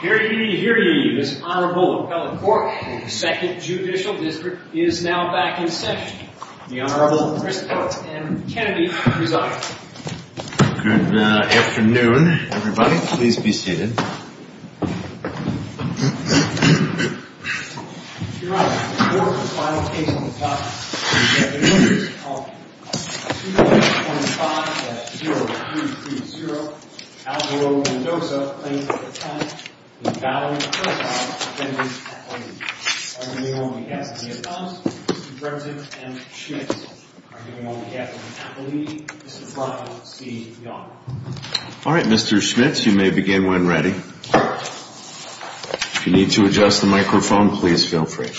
Here ye, here ye, Mr. Honorable Appellate Court. The Second Judicial District is now back in session. The Honorable Chris Peltz and Mr. Kennedy will present. Good afternoon, everybody. Please be seated. Your Honor, the fourth and final case on the topic, is the case of 225-0330, Alvaro Mendoza, plaintiff's attorney, with Valerie Herzog, defendant's attorney. Arguing on behalf of the defense, Mr. Bresnik, and the defense. Arguing on behalf of the appellee, Mr. Brian C. Young. All right, Mr. Schmitz, you may begin when ready. If you need to adjust the microphone, please feel free.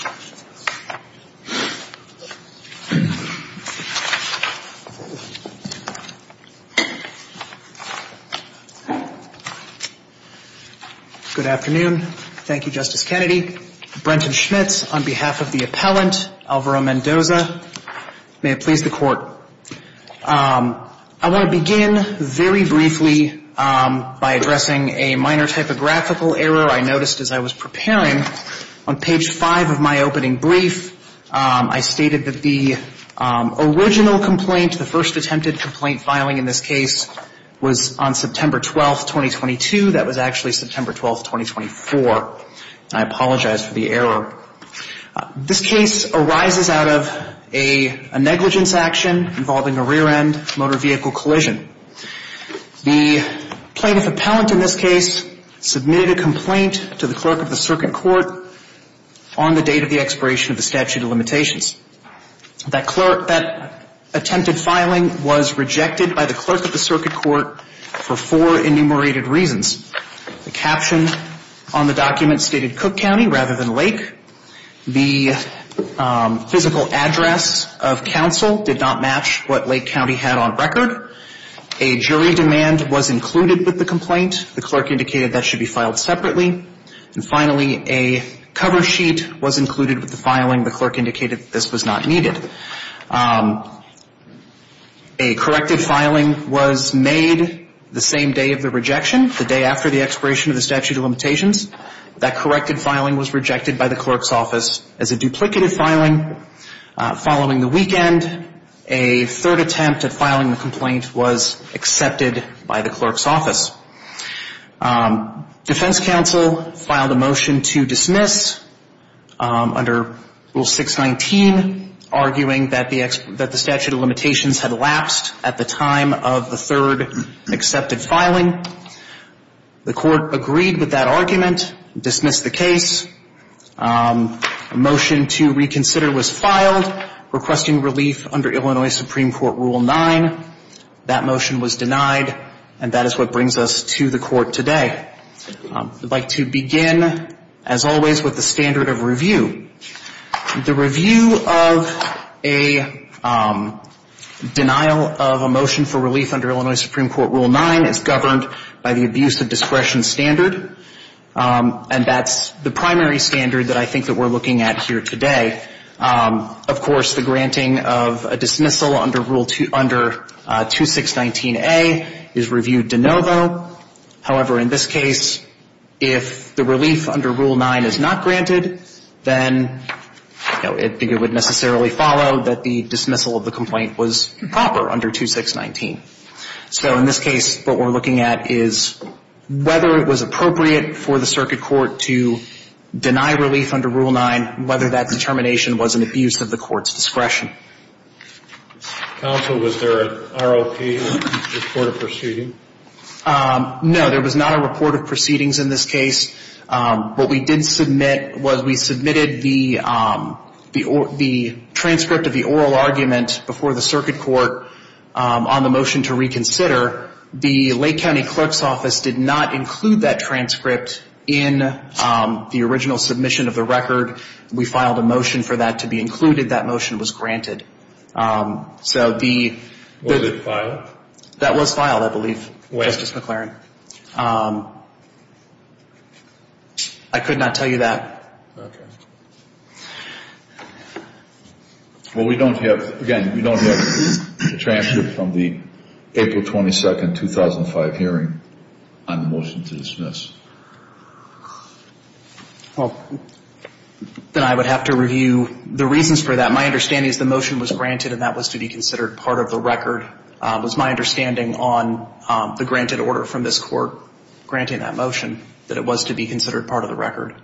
Good afternoon. Thank you, Justice Kennedy. Brenton Schmitz on behalf of the appellant, Alvaro Mendoza. May it please the Court. I want to begin very briefly by addressing a minor typographical error I noticed as I was preparing. On page 5 of my opening brief, I stated that the original complaint, the first attempted complaint filing in this case, was on September 12, 2022. That was actually September 12, 2024. I apologize for the error. This case arises out of a negligence action involving a rear-end motor vehicle collision. The plaintiff appellant in this case submitted a complaint to the clerk of the circuit court on the date of the expiration of the statute of limitations. That attempted filing was rejected by the clerk of the circuit court for four enumerated reasons. The caption on the document stated Cook County rather than Lake. The physical address of counsel did not match what Lake County had on record. A jury demand was included with the complaint. The clerk indicated that should be filed separately. And finally, a cover sheet was included with the filing. The clerk indicated that this was not needed. A corrected filing was made the same day of the rejection, the day after the expiration of the statute of limitations. That corrected filing was rejected by the clerk's office as a duplicative filing. Following the weekend, a third attempt at filing the complaint was accepted by the clerk's office. Defense counsel filed a motion to dismiss under Rule 619, arguing that the statute of limitations had lapsed at the time of the third accepted filing. The court agreed with that argument, dismissed the case. A motion to reconsider was filed, requesting relief under Illinois Supreme Court Rule 9. That motion was denied, and that is what brings us to the court today. I'd like to begin, as always, with the standard of review. The review of a denial of a motion for relief under Illinois Supreme Court Rule 9 is governed by the abuse of discretion standard. And that's the primary standard that I think that we're looking at here today. Of course, the granting of a dismissal under Rule 2, under 2619A is reviewed de novo. However, in this case, if the relief under Rule 9 is not granted, then it would necessarily follow that the dismissal of the complaint was proper under 2619. So in this case, what we're looking at is whether it was appropriate for the circuit court to deny relief under Rule 9, whether that determination was an abuse of the court's discretion. Counsel, was there an ROP, a report of proceedings? No, there was not a report of proceedings in this case. What we did submit was we submitted the transcript of the oral argument before the circuit court on the motion to reconsider. The Lake County Clerk's Office did not include that transcript in the original submission of the record. We filed a motion for that to be included. That motion was granted. Was it filed? That was filed, I believe, Justice McClaren. I could not tell you that. Well, we don't have, again, we don't have the transcript from the April 22, 2005 hearing on the motion to dismiss. Well, then I would have to review the reasons for that. My understanding is the motion was granted and that was to be considered part of the record. It was my understanding on the granted order from this Court granting that motion that it was to be considered part of the record.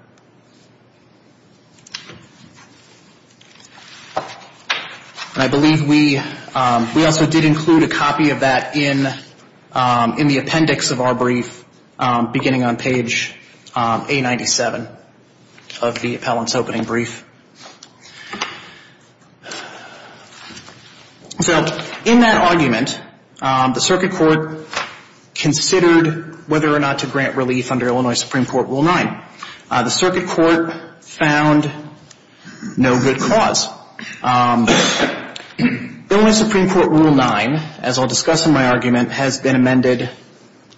And I believe we also did include a copy of that in the appendix of our brief beginning on Tuesday. It's on page A97 of the appellant's opening brief. So in that argument, the circuit court considered whether or not to grant relief under Illinois Supreme Court Rule 9. The circuit court found no good cause. Illinois Supreme Court Rule 9, as I'll discuss in my argument, has been amended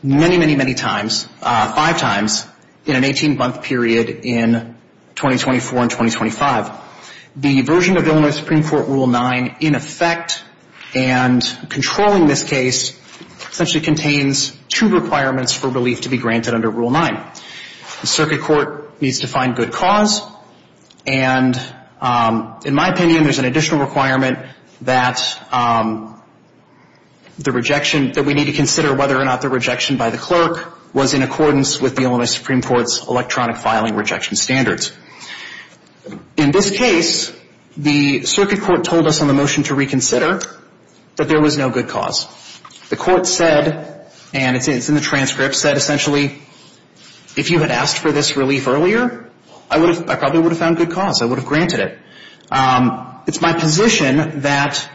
many, many, many times, five times in an 18-month period in 2024 and 2025. The version of Illinois Supreme Court Rule 9, in effect, and controlling this case, essentially contains two requirements for relief to be granted under Rule 9. The circuit court needs to find good cause. And in my opinion, there's an additional requirement that the rejection, that we need to consider whether or not the rejection by the clerk was in accordance with the Illinois Supreme Court's electronic filing rejection standards. In this case, the circuit court told us on the motion to reconsider that there was no good cause. The court said, and it's in the transcript, said essentially, if you had asked for this relief earlier, I probably would have found good cause. I would have granted it. It's my position that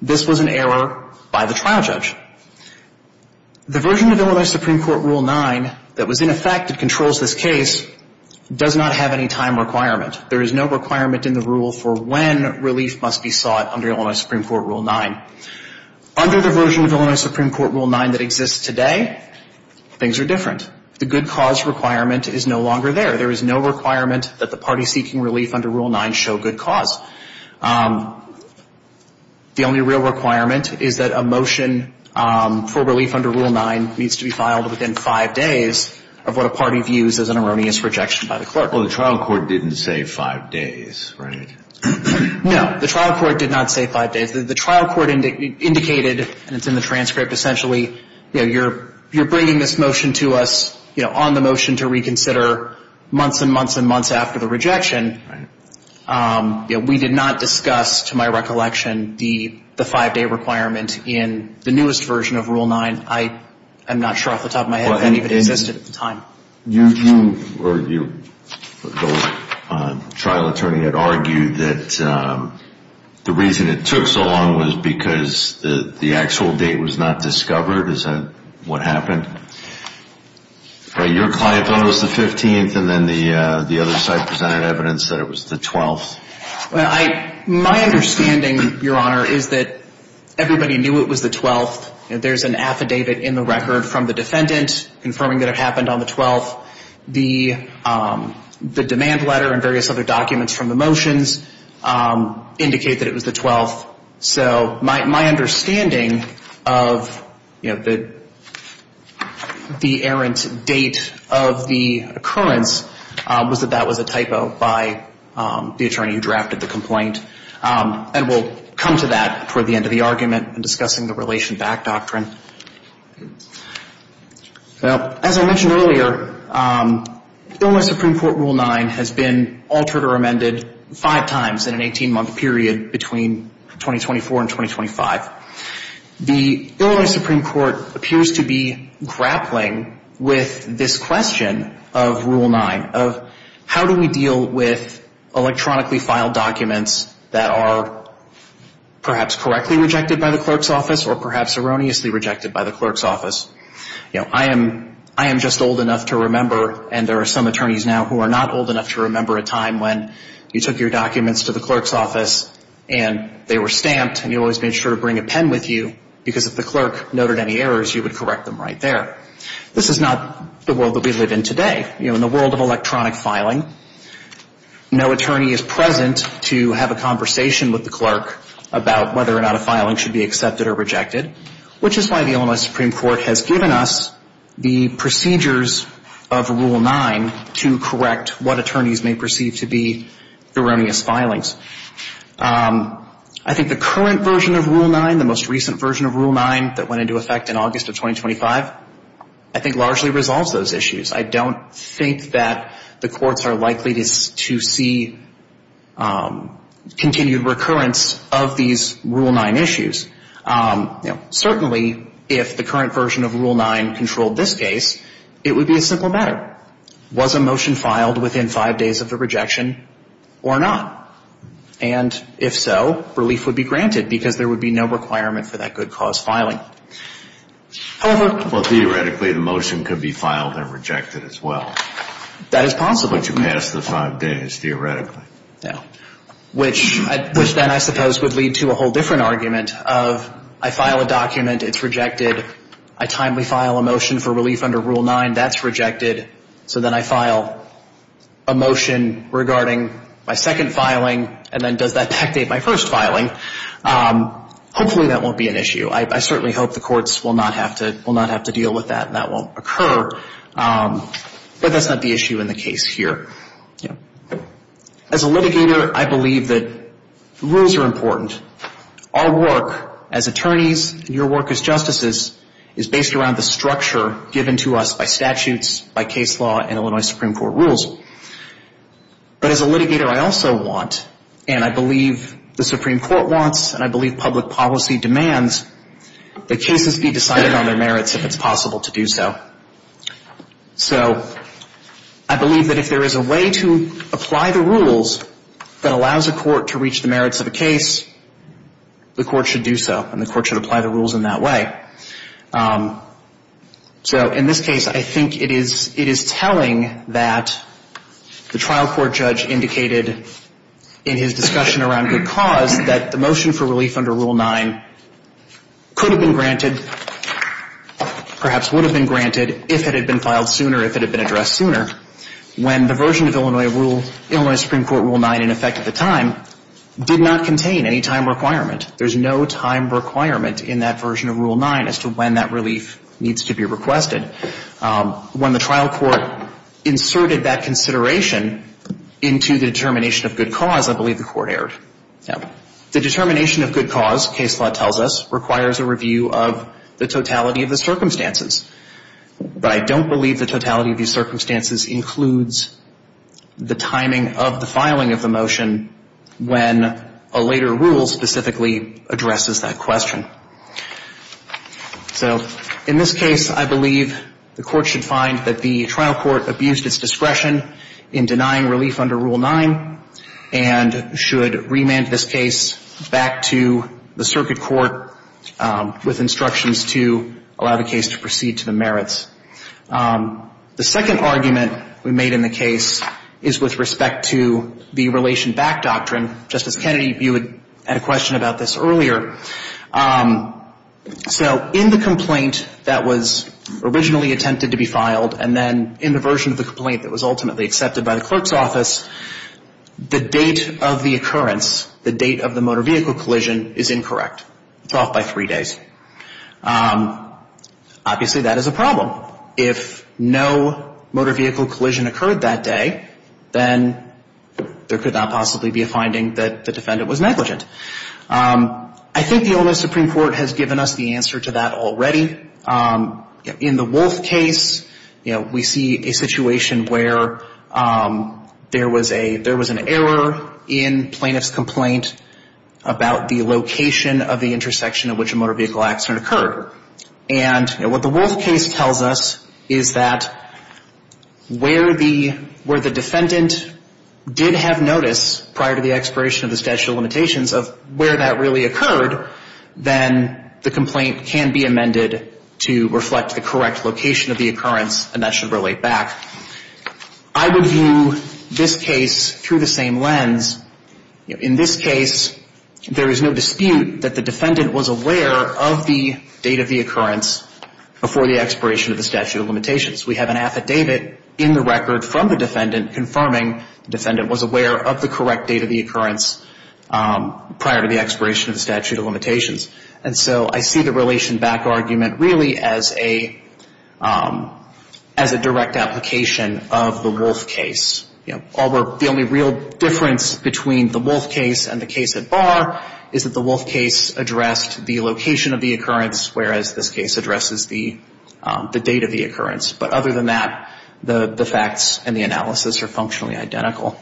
this was an error by the trial judge. The version of Illinois Supreme Court Rule 9 that was in effect and controls this case does not have any time requirement. There is no requirement in the rule for when relief must be sought under Illinois Supreme Court Rule 9. Under the version of Illinois Supreme Court Rule 9 that exists today, things are different. The good cause requirement is no longer there. There is no requirement that the party seeking relief under Rule 9 show good cause. The only real requirement is that a motion for relief under Rule 9 needs to be filed within five days of what a party views as an erroneous rejection by the clerk. Well, the trial court didn't say five days, right? No. The trial court did not say five days. The trial court indicated, and it's in the transcript, essentially, you're bringing this motion to us on the motion to reconsider months and months and months after the rejection. We did not discuss, to my recollection, the five-day requirement in the newest version of Rule 9. I'm not sure off the top of my head if that even existed at the time. The trial attorney had argued that the reason it took so long was because the actual date was not discovered. Is that what happened? Your client thought it was the 15th, and then the other side presented evidence that it was the 12th. My understanding, Your Honor, is that everybody knew it was the 12th. There's an affidavit in the record from the defendant confirming that it happened on the 12th. The demand letter and various other documents from the motions indicate that it was the 12th. So my understanding of the errant date of the occurrence was that that was a typo by the attorney who drafted the complaint. And we'll come to that toward the end of the argument in discussing the Relation Back Doctrine. As I mentioned earlier, Illinois Supreme Court Rule 9 has been altered or amended five times in an 18-month period between 2024 and 2025. The Illinois Supreme Court appears to be grappling with this question of Rule 9, of how do we deal with electronically filed documents that are perhaps correctly rejected by the clerk's office or perhaps erroneously rejected by the clerk's office. You know, I am just old enough to remember, and there are some attorneys now who are not old enough to remember, a time when you took your documents to the clerk's office and they were stamped and you always made sure to bring a pen with you because if the clerk noted any errors, you would correct them right there. This is not the world that we live in today. You know, in the world of electronic filing, no attorney is present to have a conversation with the clerk about whether or not a filing should be accepted or rejected, which is why the Illinois Supreme Court has given us the procedures of Rule 9 to correct what attorneys may perceive to be erroneous filings. I think the current version of Rule 9, the most recent version of Rule 9 that went into effect in August of 2025, I think largely resolves those issues. I don't think that the courts are likely to see continued recurrence of these Rule 9 issues. Certainly, if the current version of Rule 9 controlled this case, it would be a simple matter. Was a motion filed within five days of the rejection or not? And if so, relief would be granted because there would be no requirement for that good cause filing. However... Well, theoretically, the motion could be filed and rejected as well. That is possible. But you passed the five days, theoretically. Yeah. Which then I suppose would lead to a whole different argument of I file a document, it's rejected. I timely file a motion for relief under Rule 9, that's rejected. So then I file a motion regarding my second filing, and then does that dictate my first filing? Hopefully that won't be an issue. I certainly hope the courts will not have to deal with that and that won't occur. But that's not the issue in the case here. As a litigator, I believe that rules are important. Our work as attorneys and your work as justices is based around the structure given to us by statutes, by case law and Illinois Supreme Court rules. But as a litigator, I also want and I believe the Supreme Court wants and I believe public policy demands that cases be decided on their merits if it's possible to do so. So I believe that if there is a way to apply the rules that allows a court to reach the merits of a case, the court should do so and the court should apply the rules in that way. So in this case, I think it is telling that the trial court judge indicated in his discussion around good cause that the motion for relief under Rule 9 could have been granted, perhaps would have been granted, if it had been filed sooner, if it had been addressed sooner, when the version of Illinois Supreme Court Rule 9 in effect at the time did not contain any time requirement. There's no time requirement in that version of Rule 9 as to when that relief needs to be requested. When the trial court inserted that consideration into the determination of good cause, I believe the court erred. The determination of good cause, case law tells us, requires a review of the totality of the circumstances. But I don't believe the totality of these circumstances includes the timing of the filing of the motion when a later rule specifically addresses that question. So in this case, I believe the court should find that the trial court abused its discretion in denying relief under Rule 9 and should remand this case back to the circuit court with instructions to allow the case to proceed to the merits. The second argument we made in the case is with respect to the relation back doctrine. Justice Kennedy, you had a question about this earlier. So in the complaint that was originally attempted to be filed and then in the version of the complaint that was ultimately accepted by the clerk's office, the date of the occurrence, the date of the motor vehicle collision, is incorrect. It's off by three days. Obviously, that is a problem. If no motor vehicle collision occurred that day, then there could not possibly be a finding that the defendant was negligent. I think the Ole Miss Supreme Court has given us the answer to that already. In the Wolfe case, we see a situation where there was an error in plaintiff's complaint about the location of the intersection at which a motor vehicle accident occurred. And what the Wolfe case tells us is that where the defendant did have notice prior to the expiration of the statute of limitations of where that really occurred, then the complaint can be amended to reflect the correct location of the occurrence, and that should relate back. I would view this case through the same lens. In this case, there is no dispute that the defendant was aware of the date of the occurrence before the expiration of the statute of limitations. We have an affidavit in the record from the defendant confirming the defendant was aware of the correct date of the occurrence prior to the expiration of the statute of limitations. And so I see the relation back argument really as a direct application of the Wolfe case. You know, the only real difference between the Wolfe case and the case at bar is that the Wolfe case addressed the location of the occurrence, whereas this case addresses the date of the occurrence. But other than that, the facts and the analysis are functionally identical.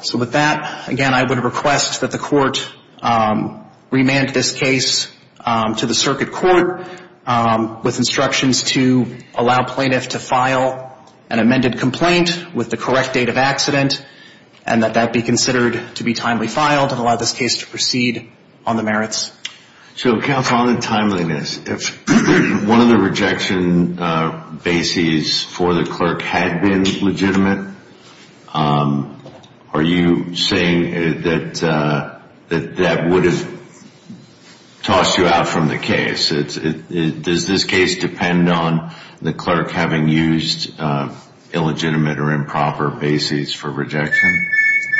So with that, again, I would request that the court remand this case to the circuit court with instructions to allow plaintiff to file an amended complaint with the correct date of accident and that that be considered to be timely filed and allow this case to proceed on the merits. So, counsel, on the timeliness, if one of the rejection bases for the clerk had been legitimate, are you saying that that would have tossed you out from the case? Does this case depend on the clerk having used illegitimate or improper bases for rejection?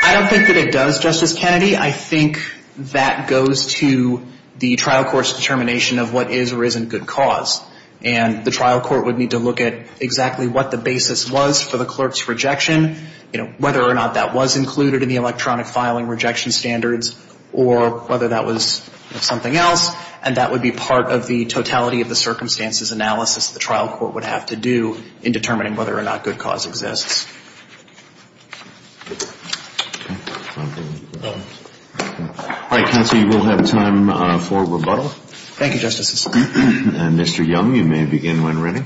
I don't think that it does, Justice Kennedy. I think that goes to the trial court's determination of what is or isn't good cause. And the trial court would need to look at exactly what the basis was for the clerk's rejection, whether or not that was included in the electronic filing rejection standards, or whether that was something else. And that would be part of the totality of the circumstances analysis the trial court would have to do in determining whether or not good cause exists. All right, counsel, you will have time for rebuttal. Thank you, Justice. And, Mr. Young, you may begin when ready.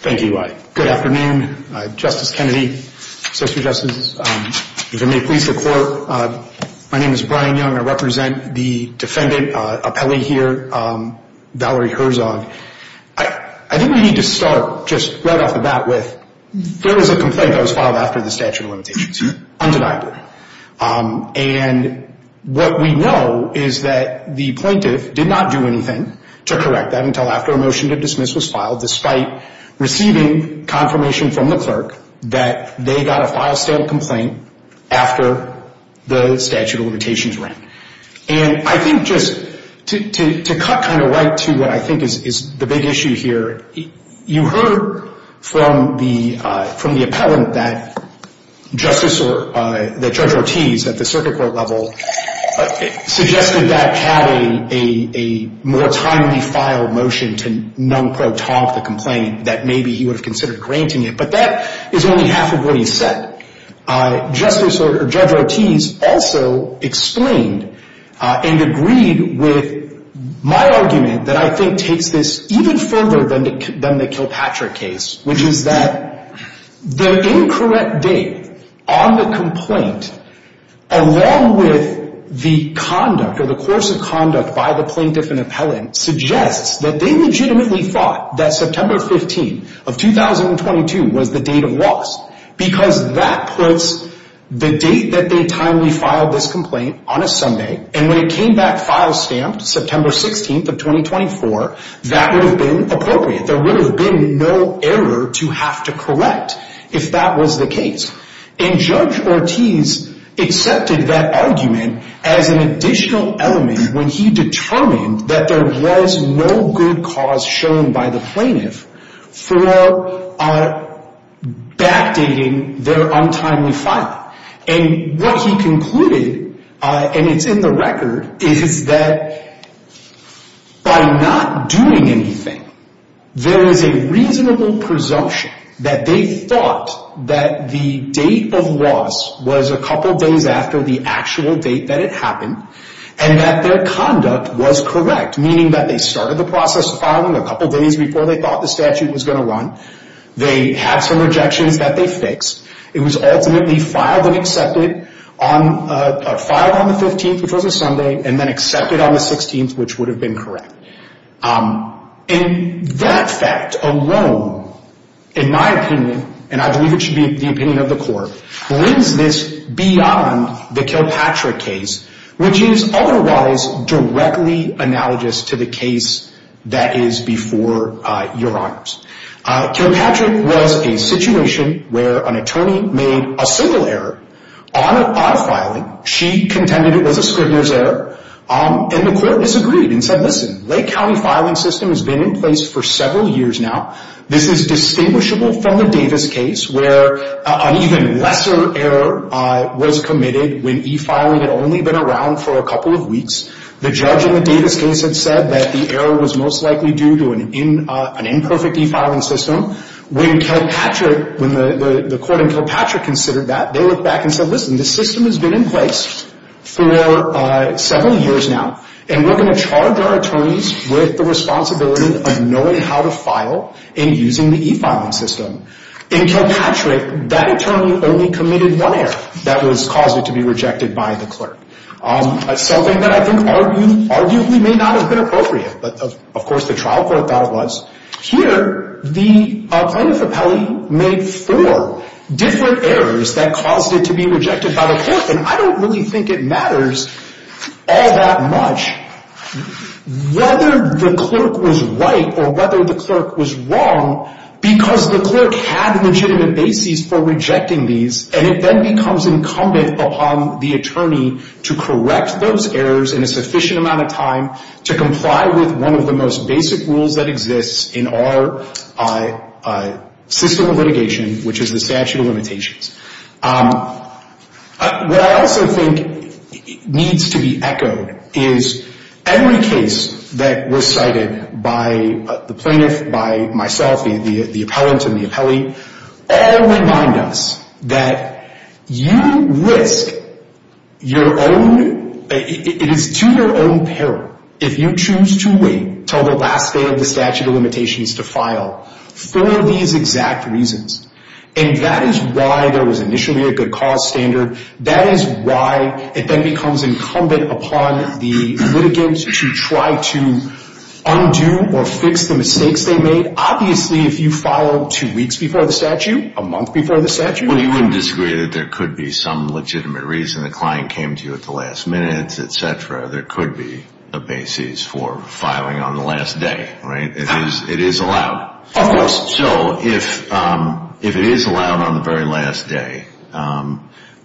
Thank you. Good afternoon, Justice Kennedy, Associate Justice. If it may please the Court, my name is Brian Young. I represent the defendant appellee here, Valerie Herzog. I think we need to start just right off the bat with, there was a complaint that was filed after the statute of limitations, undeniably. And what we know is that the plaintiff did not do anything to correct that until after a motion to dismiss was filed, despite receiving confirmation from the clerk that they got a file-stamped complaint after the statute of limitations ran. And I think just to cut kind of right to what I think is the big issue here, you heard from the appellant that Judge Ortiz, at the circuit court level, suggested that had a more timely file motion to non-quo talk the complaint, that maybe he would have considered granting it. But that is only half of what he said. Judge Ortiz also explained and agreed with my argument that I think takes this even further than the Kilpatrick case, which is that the incorrect date on the complaint, along with the conduct or the course of conduct by the plaintiff and appellant, suggests that they legitimately thought that September 15 of 2022 was the date of loss because that puts the date that they timely filed this complaint on a Sunday. And when it came back file-stamped, September 16 of 2024, that would have been appropriate. There would have been no error to have to correct if that was the case. And Judge Ortiz accepted that argument as an additional element when he determined that there was no good cause shown by the plaintiff for backdating their untimely filing. And what he concluded, and it's in the record, is that by not doing anything, there is a reasonable presumption that they thought that the date of loss was a couple days after the actual date that it happened and that their conduct was correct, meaning that they started the process of filing a couple days before they thought the statute was going to run. They had some rejections that they fixed. It was ultimately filed and accepted, filed on the 15th, which was a Sunday, and then accepted on the 16th, which would have been correct. And that fact alone, in my opinion, and I believe it should be the opinion of the court, brings this beyond the Kilpatrick case, which is otherwise directly analogous to the case that is before Your Honors. Kilpatrick was a situation where an attorney made a single error on a filing. She contended it was a Scribner's error, and the court disagreed and said, listen, Lake County filing system has been in place for several years now. This is distinguishable from the Davis case where an even lesser error was committed when e-filing had only been around for a couple of weeks. The judge in the Davis case had said that the error was most likely due to an imperfect e-filing system. When the court in Kilpatrick considered that, they looked back and said, listen, this system has been in place for several years now, and we're going to charge our attorneys with the responsibility of knowing how to file and using the e-filing system. In Kilpatrick, that attorney only committed one error that caused it to be rejected by the clerk. Something that I think arguably may not have been appropriate, but of course the trial court thought it was. Here, the plaintiff appellee made four different errors that caused it to be rejected by the clerk, and I don't really think it matters all that much whether the clerk was right or whether the clerk was wrong because the clerk had a legitimate basis for rejecting these, and it then becomes incumbent upon the attorney to correct those errors in a sufficient amount of time to comply with one of the most basic rules that exists in our system of litigation, which is the statute of limitations. What I also think needs to be echoed is every case that was cited by the plaintiff, by myself, the appellant and the appellee all remind us that you risk your own, it is to your own peril if you choose to wait until the last day of the statute of limitations to file for these exact reasons, and that is why there was initially a good cause standard. That is why it then becomes incumbent upon the litigants to try to undo or fix the mistakes they made. Obviously, if you file two weeks before the statute, a month before the statute. Well, you wouldn't disagree that there could be some legitimate reason the client came to you at the last minute, etc. There could be a basis for filing on the last day, right? It is allowed. Of course. So, if it is allowed on the very last day,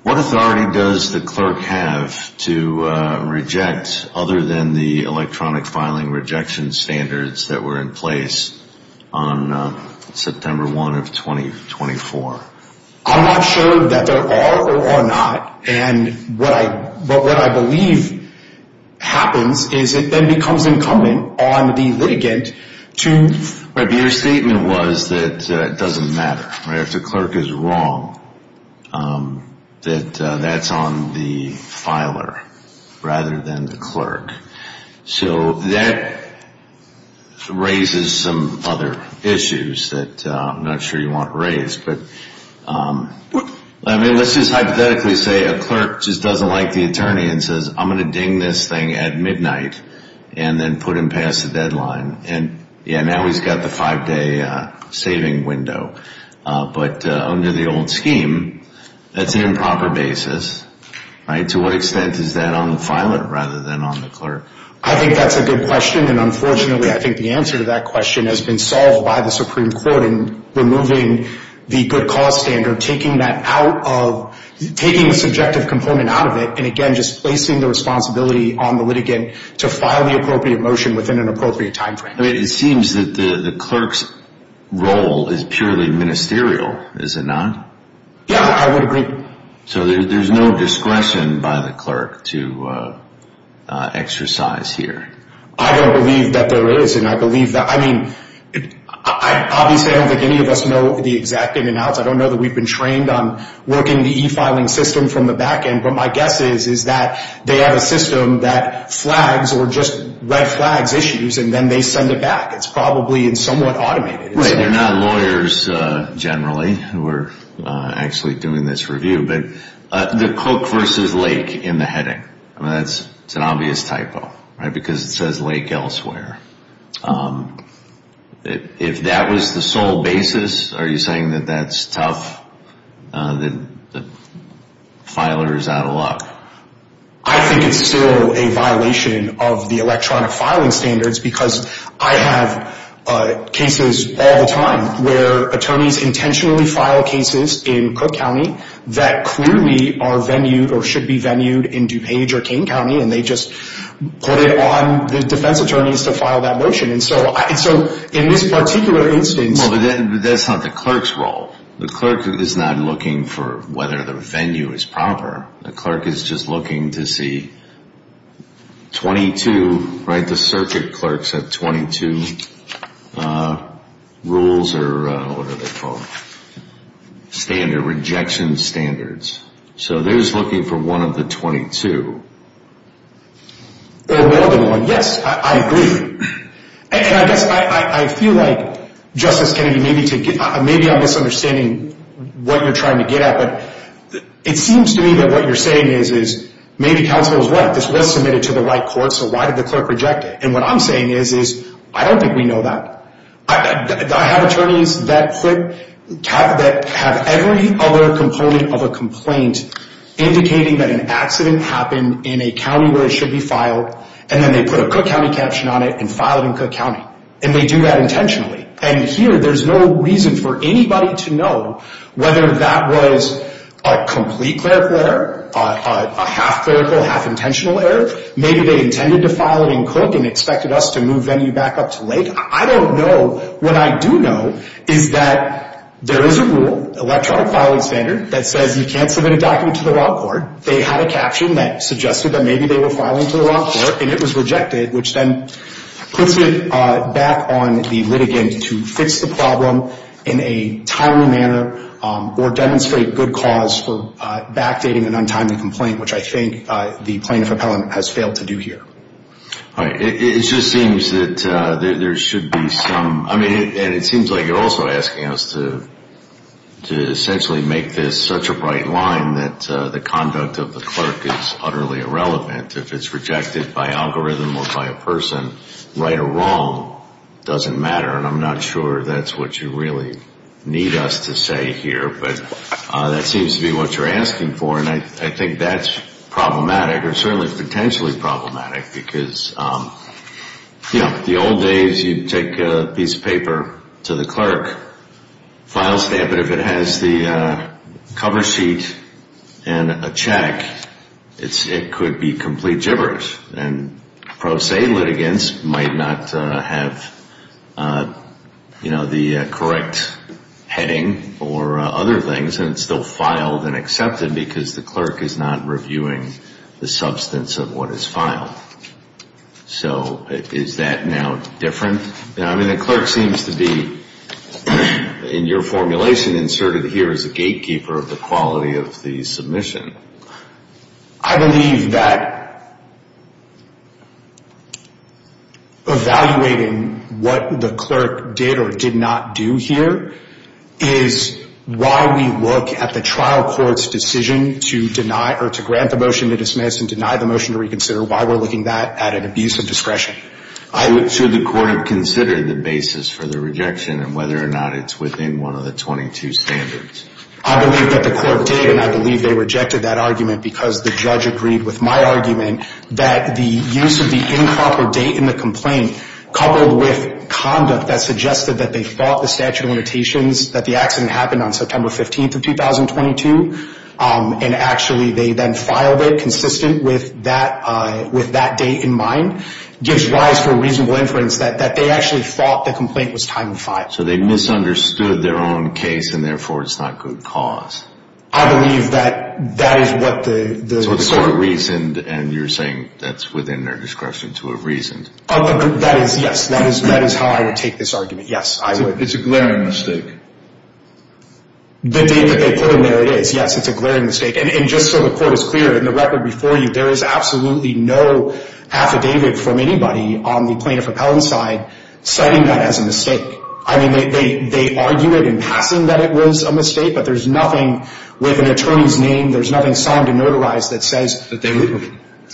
what authority does the clerk have to reject, other than the electronic filing rejection standards that were in place on September 1 of 2024? I'm not sure that there are or are not, and what I believe happens is it then becomes incumbent on the litigant to… Your statement was that it doesn't matter, right? If the clerk is wrong, that that is on the filer rather than the clerk. So, that raises some other issues that I'm not sure you want raised. I mean, let's just hypothetically say a clerk just doesn't like the attorney and says, I'm going to ding this thing at midnight and then put him past the deadline. And, yeah, now he's got the five-day saving window. But under the old scheme, that's an improper basis, right? To what extent is that on the filer rather than on the clerk? I think that's a good question. And, unfortunately, I think the answer to that question has been solved by the Supreme Court in removing the good cause standard, taking the subjective component out of it, and, again, just placing the responsibility on the litigant to file the appropriate motion within an appropriate time frame. It seems that the clerk's role is purely ministerial, is it not? Yeah, I would agree. So, there's no discretion by the clerk to exercise here? I don't believe that there is. I mean, obviously, I don't think any of us know the exact in and outs. I don't know that we've been trained on working the e-filing system from the back end. But my guess is that they have a system that flags or just red flags issues, and then they send it back. It's probably somewhat automated. They're not lawyers, generally, who are actually doing this review. But the cook versus lake in the heading, that's an obvious typo, right, because it says lake elsewhere. If that was the sole basis, are you saying that that's tough, that filers out a lot? I think it's still a violation of the electronic filing standards because I have cases all the time where attorneys intentionally file cases in Cook County that clearly are venue or should be venue in DuPage or King County, and they just put it on the defense attorneys to file that motion. And so, in this particular instance— Well, but that's not the clerk's role. The clerk is not looking for whether the venue is proper. The clerk is just looking to see 22, right? The circuit clerks have 22 rules or what are they called, standard, rejection standards. So they're just looking for one of the 22. Or more than one. Yes, I agree. And I guess I feel like, Justice Kennedy, maybe I'm misunderstanding what you're trying to get at, but it seems to me that what you're saying is maybe counsel is right. This was submitted to the right court, so why did the clerk reject it? And what I'm saying is I don't think we know that. I have attorneys that have every other component of a complaint indicating that an accident happened in a county where it should be filed, and then they put a Cook County caption on it and file it in Cook County. And they do that intentionally. And here, there's no reason for anybody to know whether that was a complete clerical error, a half-clerical, half-intentional error. Maybe they intended to file it in Cook and expected us to move venue back up to Lake. I don't know. What I do know is that there is a rule, electronic filing standard, that says you can't submit a document to the wrong court. They had a caption that suggested that maybe they were filing to the wrong court, and it was rejected, which then puts it back on the litigant to fix the problem in a timely manner or demonstrate good cause for backdating an untimely complaint, which I think the plaintiff appellant has failed to do here. All right. It just seems that there should be some – I mean, and it seems like you're also asking us to essentially make this such a bright line that the conduct of the clerk is utterly irrelevant. If it's rejected by algorithm or by a person, right or wrong doesn't matter, and I'm not sure that's what you really need us to say here. But that seems to be what you're asking for, and I think that's problematic or certainly potentially problematic because the old days you'd take a piece of paper to the clerk, file stamp it. If it has the cover sheet and a check, it could be complete gibberish, and pro se litigants might not have the correct heading or other things, and it's still filed and accepted because the clerk is not reviewing the substance of what is filed. So is that now different? I mean, the clerk seems to be, in your formulation, inserted here as a gatekeeper of the quality of the submission. I believe that evaluating what the clerk did or did not do here is why we look at the trial court's decision to deny or to grant the motion to dismiss and deny the motion to reconsider, why we're looking at that at an abuse of discretion. I'm not sure the court had considered the basis for the rejection and whether or not it's within one of the 22 standards. I believe that the clerk did, and I believe they rejected that argument because the judge agreed with my argument that the use of the improper date in the complaint coupled with conduct that suggested that they thought the statute of limitations, that the accident happened on September 15th of 2022, and actually they then filed it consistent with that date in mind, gives rise to a reasonable inference that they actually thought the complaint was time to file. So they misunderstood their own case, and therefore it's not good cause. I believe that that is what the clerk... So the court reasoned, and you're saying that's within their discretion to have reasoned. That is, yes. That is how I would take this argument. Yes, I would. It's a glaring mistake. The date that they put in there, it is. Yes, it's a glaring mistake. And just so the court is clear, in the record before you, there is absolutely no affidavit from anybody on the plaintiff repellent side citing that as a mistake. I mean, they argue it in passing that it was a mistake, but there's nothing with an attorney's name, there's nothing signed and notarized that says... That they were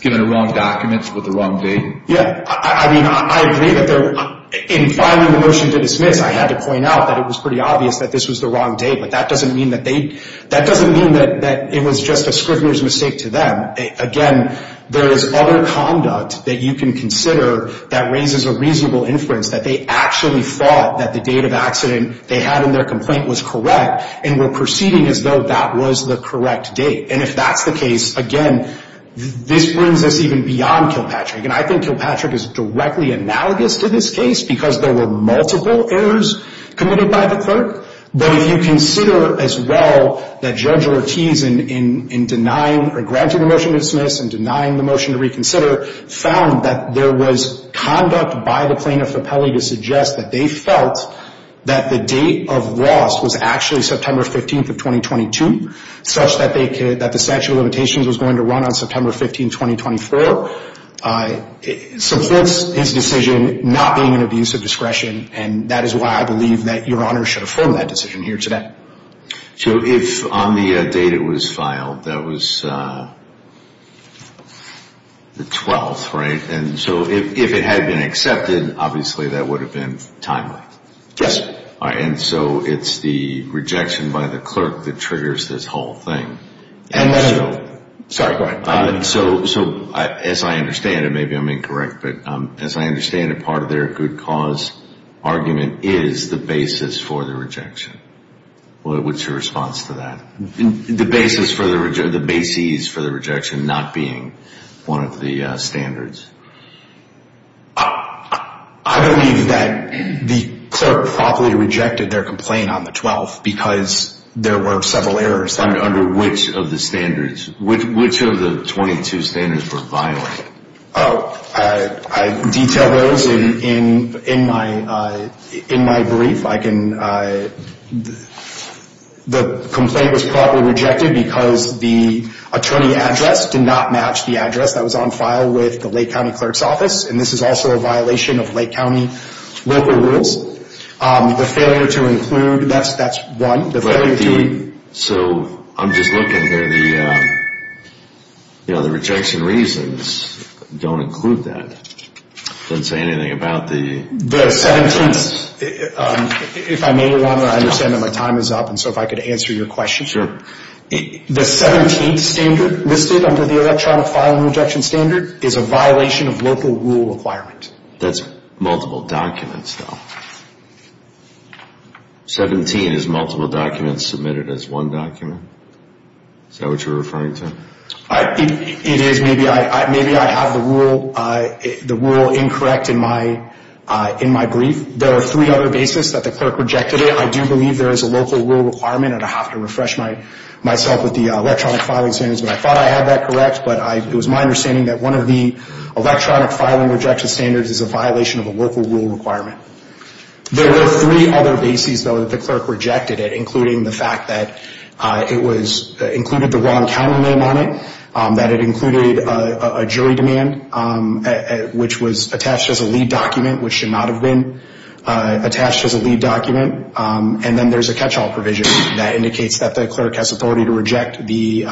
given the wrong documents with the wrong date. Yeah, I mean, I agree that they're... In filing the motion to dismiss, I had to point out that it was pretty obvious that this was the wrong date, but that doesn't mean that they... That doesn't mean that it was just a scrivener's mistake to them. Again, there is other conduct that you can consider that raises a reasonable inference that they actually thought that the date of accident they had in their complaint was correct and were proceeding as though that was the correct date. And if that's the case, again, this brings us even beyond Kilpatrick. And I think Kilpatrick is directly analogous to this case because there were multiple errors committed by the clerk. But if you consider as well that Judge Ortiz, in denying or granting the motion to dismiss and denying the motion to reconsider, found that there was conduct by the plaintiff appellee to suggest that they felt that the date of loss was actually September 15th of 2022, such that the statute of limitations was going to run on September 15th, 2024, supports his decision not being an abuse of discretion. And that is why I believe that Your Honor should affirm that decision here today. So if on the date it was filed, that was the 12th, right? And so if it had been accepted, obviously that would have been timely. Yes. All right. And so it's the rejection by the clerk that triggers this whole thing. And so as I understand it, maybe I'm incorrect, but as I understand it, part of their good cause argument is the basis for the rejection. What's your response to that? The basis for the rejection, the base ease for the rejection not being one of the standards. I believe that the clerk probably rejected their complaint on the 12th because there were several errors. Under which of the standards? Which of the 22 standards were violated? I detail those in my brief. The complaint was probably rejected because the attorney address did not match the address that was on file with the Lake County Clerk's Office, and this is also a violation of Lake County local rules. The failure to include, that's one. So I'm just looking here. The rejection reasons don't include that. It doesn't say anything about the... The 17th, if I may, I understand that my time is up, and so if I could answer your question. The 17th standard listed under the electronic filing rejection standard is a violation of local rule requirement. That's multiple documents, though. 17 is multiple documents submitted as one document? Is that what you're referring to? It is. Maybe I have the rule incorrect in my brief. There are three other basis that the clerk rejected it. I do believe there is a local rule requirement, and I have to refresh myself with the electronic filing standards, but I thought I had that correct, but it was my understanding that one of the electronic filing rejection standards is a violation of a local rule requirement. There were three other basis, though, that the clerk rejected it, including the fact that it was included the wrong county name on it, that it included a jury demand, which was attached as a lead document, which should not have been attached as a lead document, and then there's a catch-all provision that indicates that the clerk has authority to reject the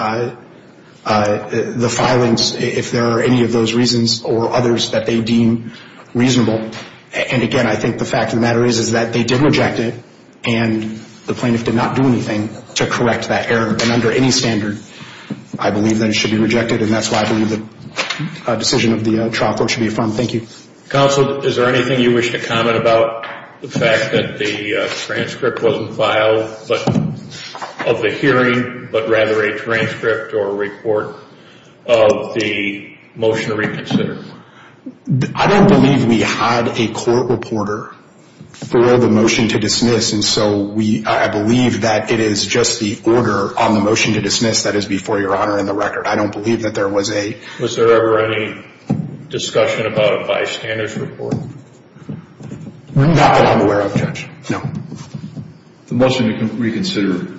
filings, if there are any of those reasons or others that they deem reasonable. And, again, I think the fact of the matter is that they did reject it, and the plaintiff did not do anything to correct that error. And under any standard, I believe that it should be rejected, and that's why I believe the decision of the trial court should be affirmed. Thank you. Counsel, is there anything you wish to comment about the fact that the transcript wasn't filed of the hearing, but rather a transcript or a report of the motion to reconsider? I don't believe we had a court reporter for the motion to dismiss, and so I believe that it is just the order on the motion to dismiss that is before Your Honor in the record. I don't believe that there was a— Was there ever any discussion about a bystander's report? Not that I'm aware of, Judge, no. The motion to reconsider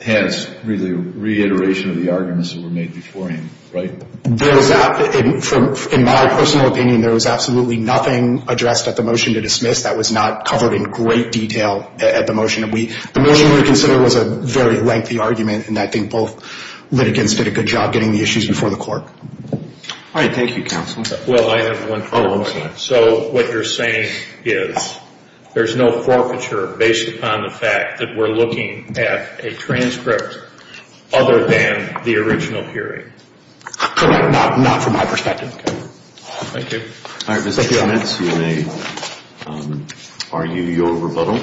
has really reiteration of the arguments that were made beforehand, right? In my personal opinion, there was absolutely nothing addressed at the motion to dismiss that was not covered in great detail at the motion. The motion to reconsider was a very lengthy argument, and I think both litigants did a good job getting the issues before the court. All right. Thank you, Counsel. Well, I have one follow-up. So what you're saying is there's no forfeiture based upon the fact that we're looking at a transcript other than the original hearing? Correct. Not from my perspective. Okay. Thank you. All right. Mr. Jonetz, you may argue your rebuttal.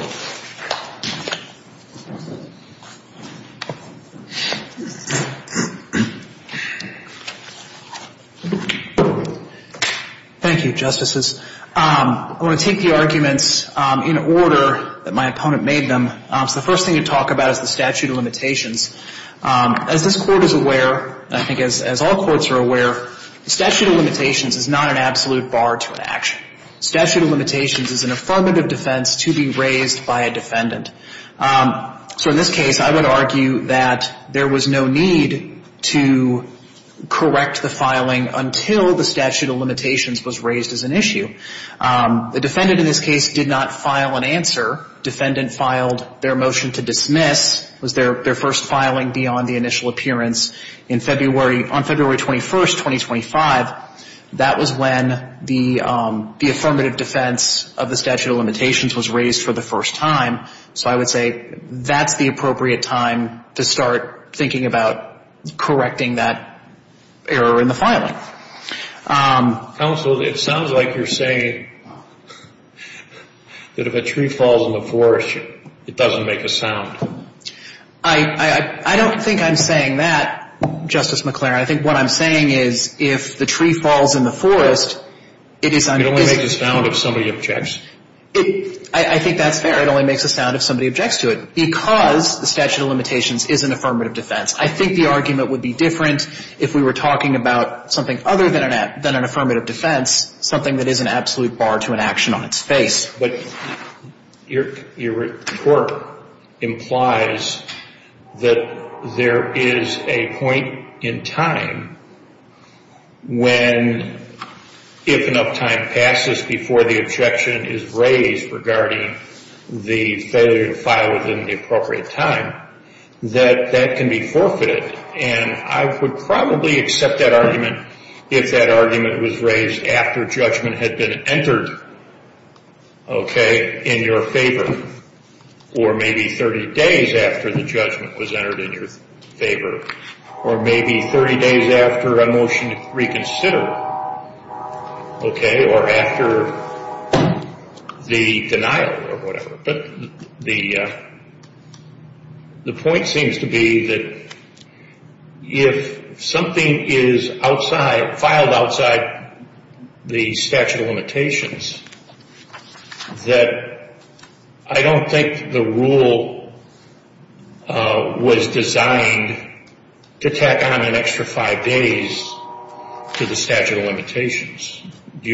Thank you, Justices. I want to take the arguments in order that my opponent made them. So the first thing to talk about is the statute of limitations. As this Court is aware, I think as all courts are aware, statute of limitations is not an absolute bar to an action. Statute of limitations is an affirmative defense to be raised by a defendant. So in this case, I would argue that there was no need to correct the filing until the statute of limitations was raised as an issue. The defendant in this case did not file an answer. Defendant filed their motion to dismiss. It was their first filing beyond the initial appearance on February 21st, 2025. That was when the affirmative defense of the statute of limitations was raised for the first time. So I would say that's the appropriate time to start thinking about correcting that error in the filing. Counsel, it sounds like you're saying that if a tree falls in the forest, it doesn't make a sound. I don't think I'm saying that, Justice McClaren. I think what I'm saying is if the tree falls in the forest, it is un- It only makes a sound if somebody objects. I think that's fair. It only makes a sound if somebody objects to it because the statute of limitations is an affirmative defense. I think the argument would be different if we were talking about something other than an affirmative defense, something that is an absolute bar to an action on its face. But your report implies that there is a point in time when, if enough time passes before the objection is raised regarding the failure to file within the appropriate time, that that can be forfeited. And I would probably accept that argument if that argument was raised after judgment had been entered in your favor, or maybe 30 days after the judgment was entered in your favor, or maybe 30 days after a motion to reconsider, or after the denial, or whatever. The point seems to be that if something is outside, filed outside the statute of limitations, that I don't think the rule was designed to tack on an extra five days to the statute of limitations. Do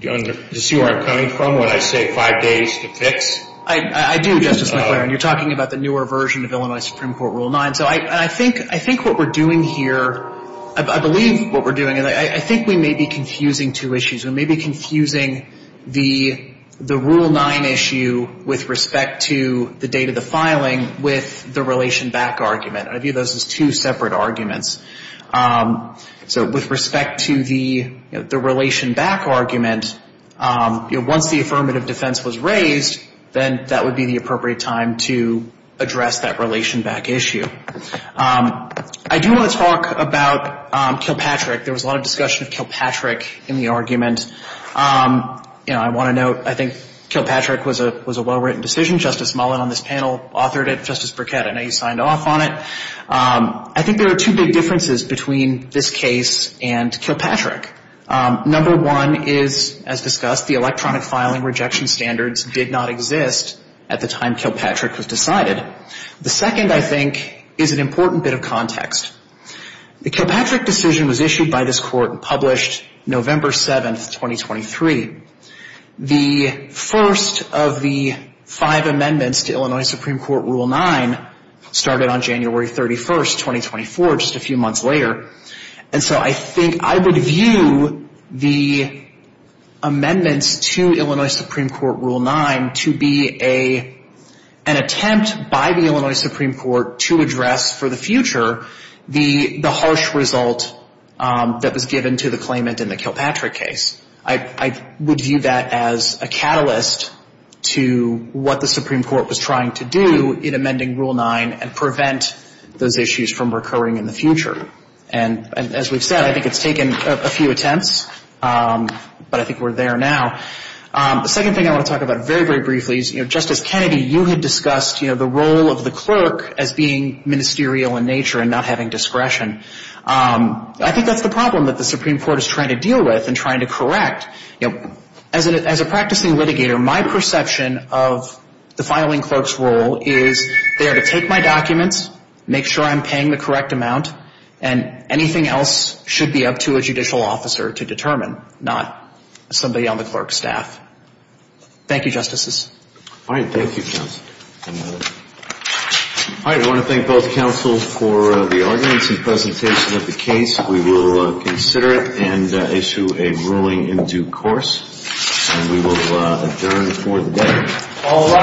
you see where I'm coming from when I say five days to fix? I do, Justice McClaren. You're talking about the newer version of Illinois Supreme Court Rule 9. So I think what we're doing here, I believe what we're doing, I think we may be confusing two issues. We may be confusing the Rule 9 issue with respect to the date of the filing with the relation back argument. I view those as two separate arguments. So with respect to the relation back argument, once the affirmative defense was raised, then that would be the appropriate time to address that relation back issue. I do want to talk about Kilpatrick. There was a lot of discussion of Kilpatrick in the argument. I want to note, I think Kilpatrick was a well-written decision. Justice Mullen on this panel authored it. Justice Burkett, I know you signed off on it. I think there are two big differences between this case and Kilpatrick. Number one is, as discussed, the electronic filing rejection standards did not exist at the time Kilpatrick was decided. The second, I think, is an important bit of context. The Kilpatrick decision was issued by this court and published November 7, 2023. The first of the five amendments to Illinois Supreme Court Rule 9 started on January 31, 2024, just a few months later. And so I think I would view the amendments to Illinois Supreme Court Rule 9 to be an attempt by the Illinois Supreme Court to address for the future the harsh result that was given to the claimant in the Kilpatrick case. I would view that as a catalyst to what the Supreme Court was trying to do in amending Rule 9 and prevent those issues from recurring in the future. And as we've said, I think it's taken a few attempts, but I think we're there now. The second thing I want to talk about very, very briefly is, you know, Justice Kennedy, you had discussed, you know, the role of the clerk as being ministerial in nature and not having discretion. I think that's the problem that the Supreme Court is trying to deal with and trying to correct. You know, as a practicing litigator, my perception of the filing clerk's role is they are to take my documents, make sure I'm paying the correct amount, and anything else should be up to a judicial officer to determine, not somebody on the clerk's staff. Thank you, Justices. All right. Thank you, Counsel. All right. I want to thank both counsels for the arguments and presentation of the case. We will consider it and issue a ruling in due course. And we will adjourn for the day.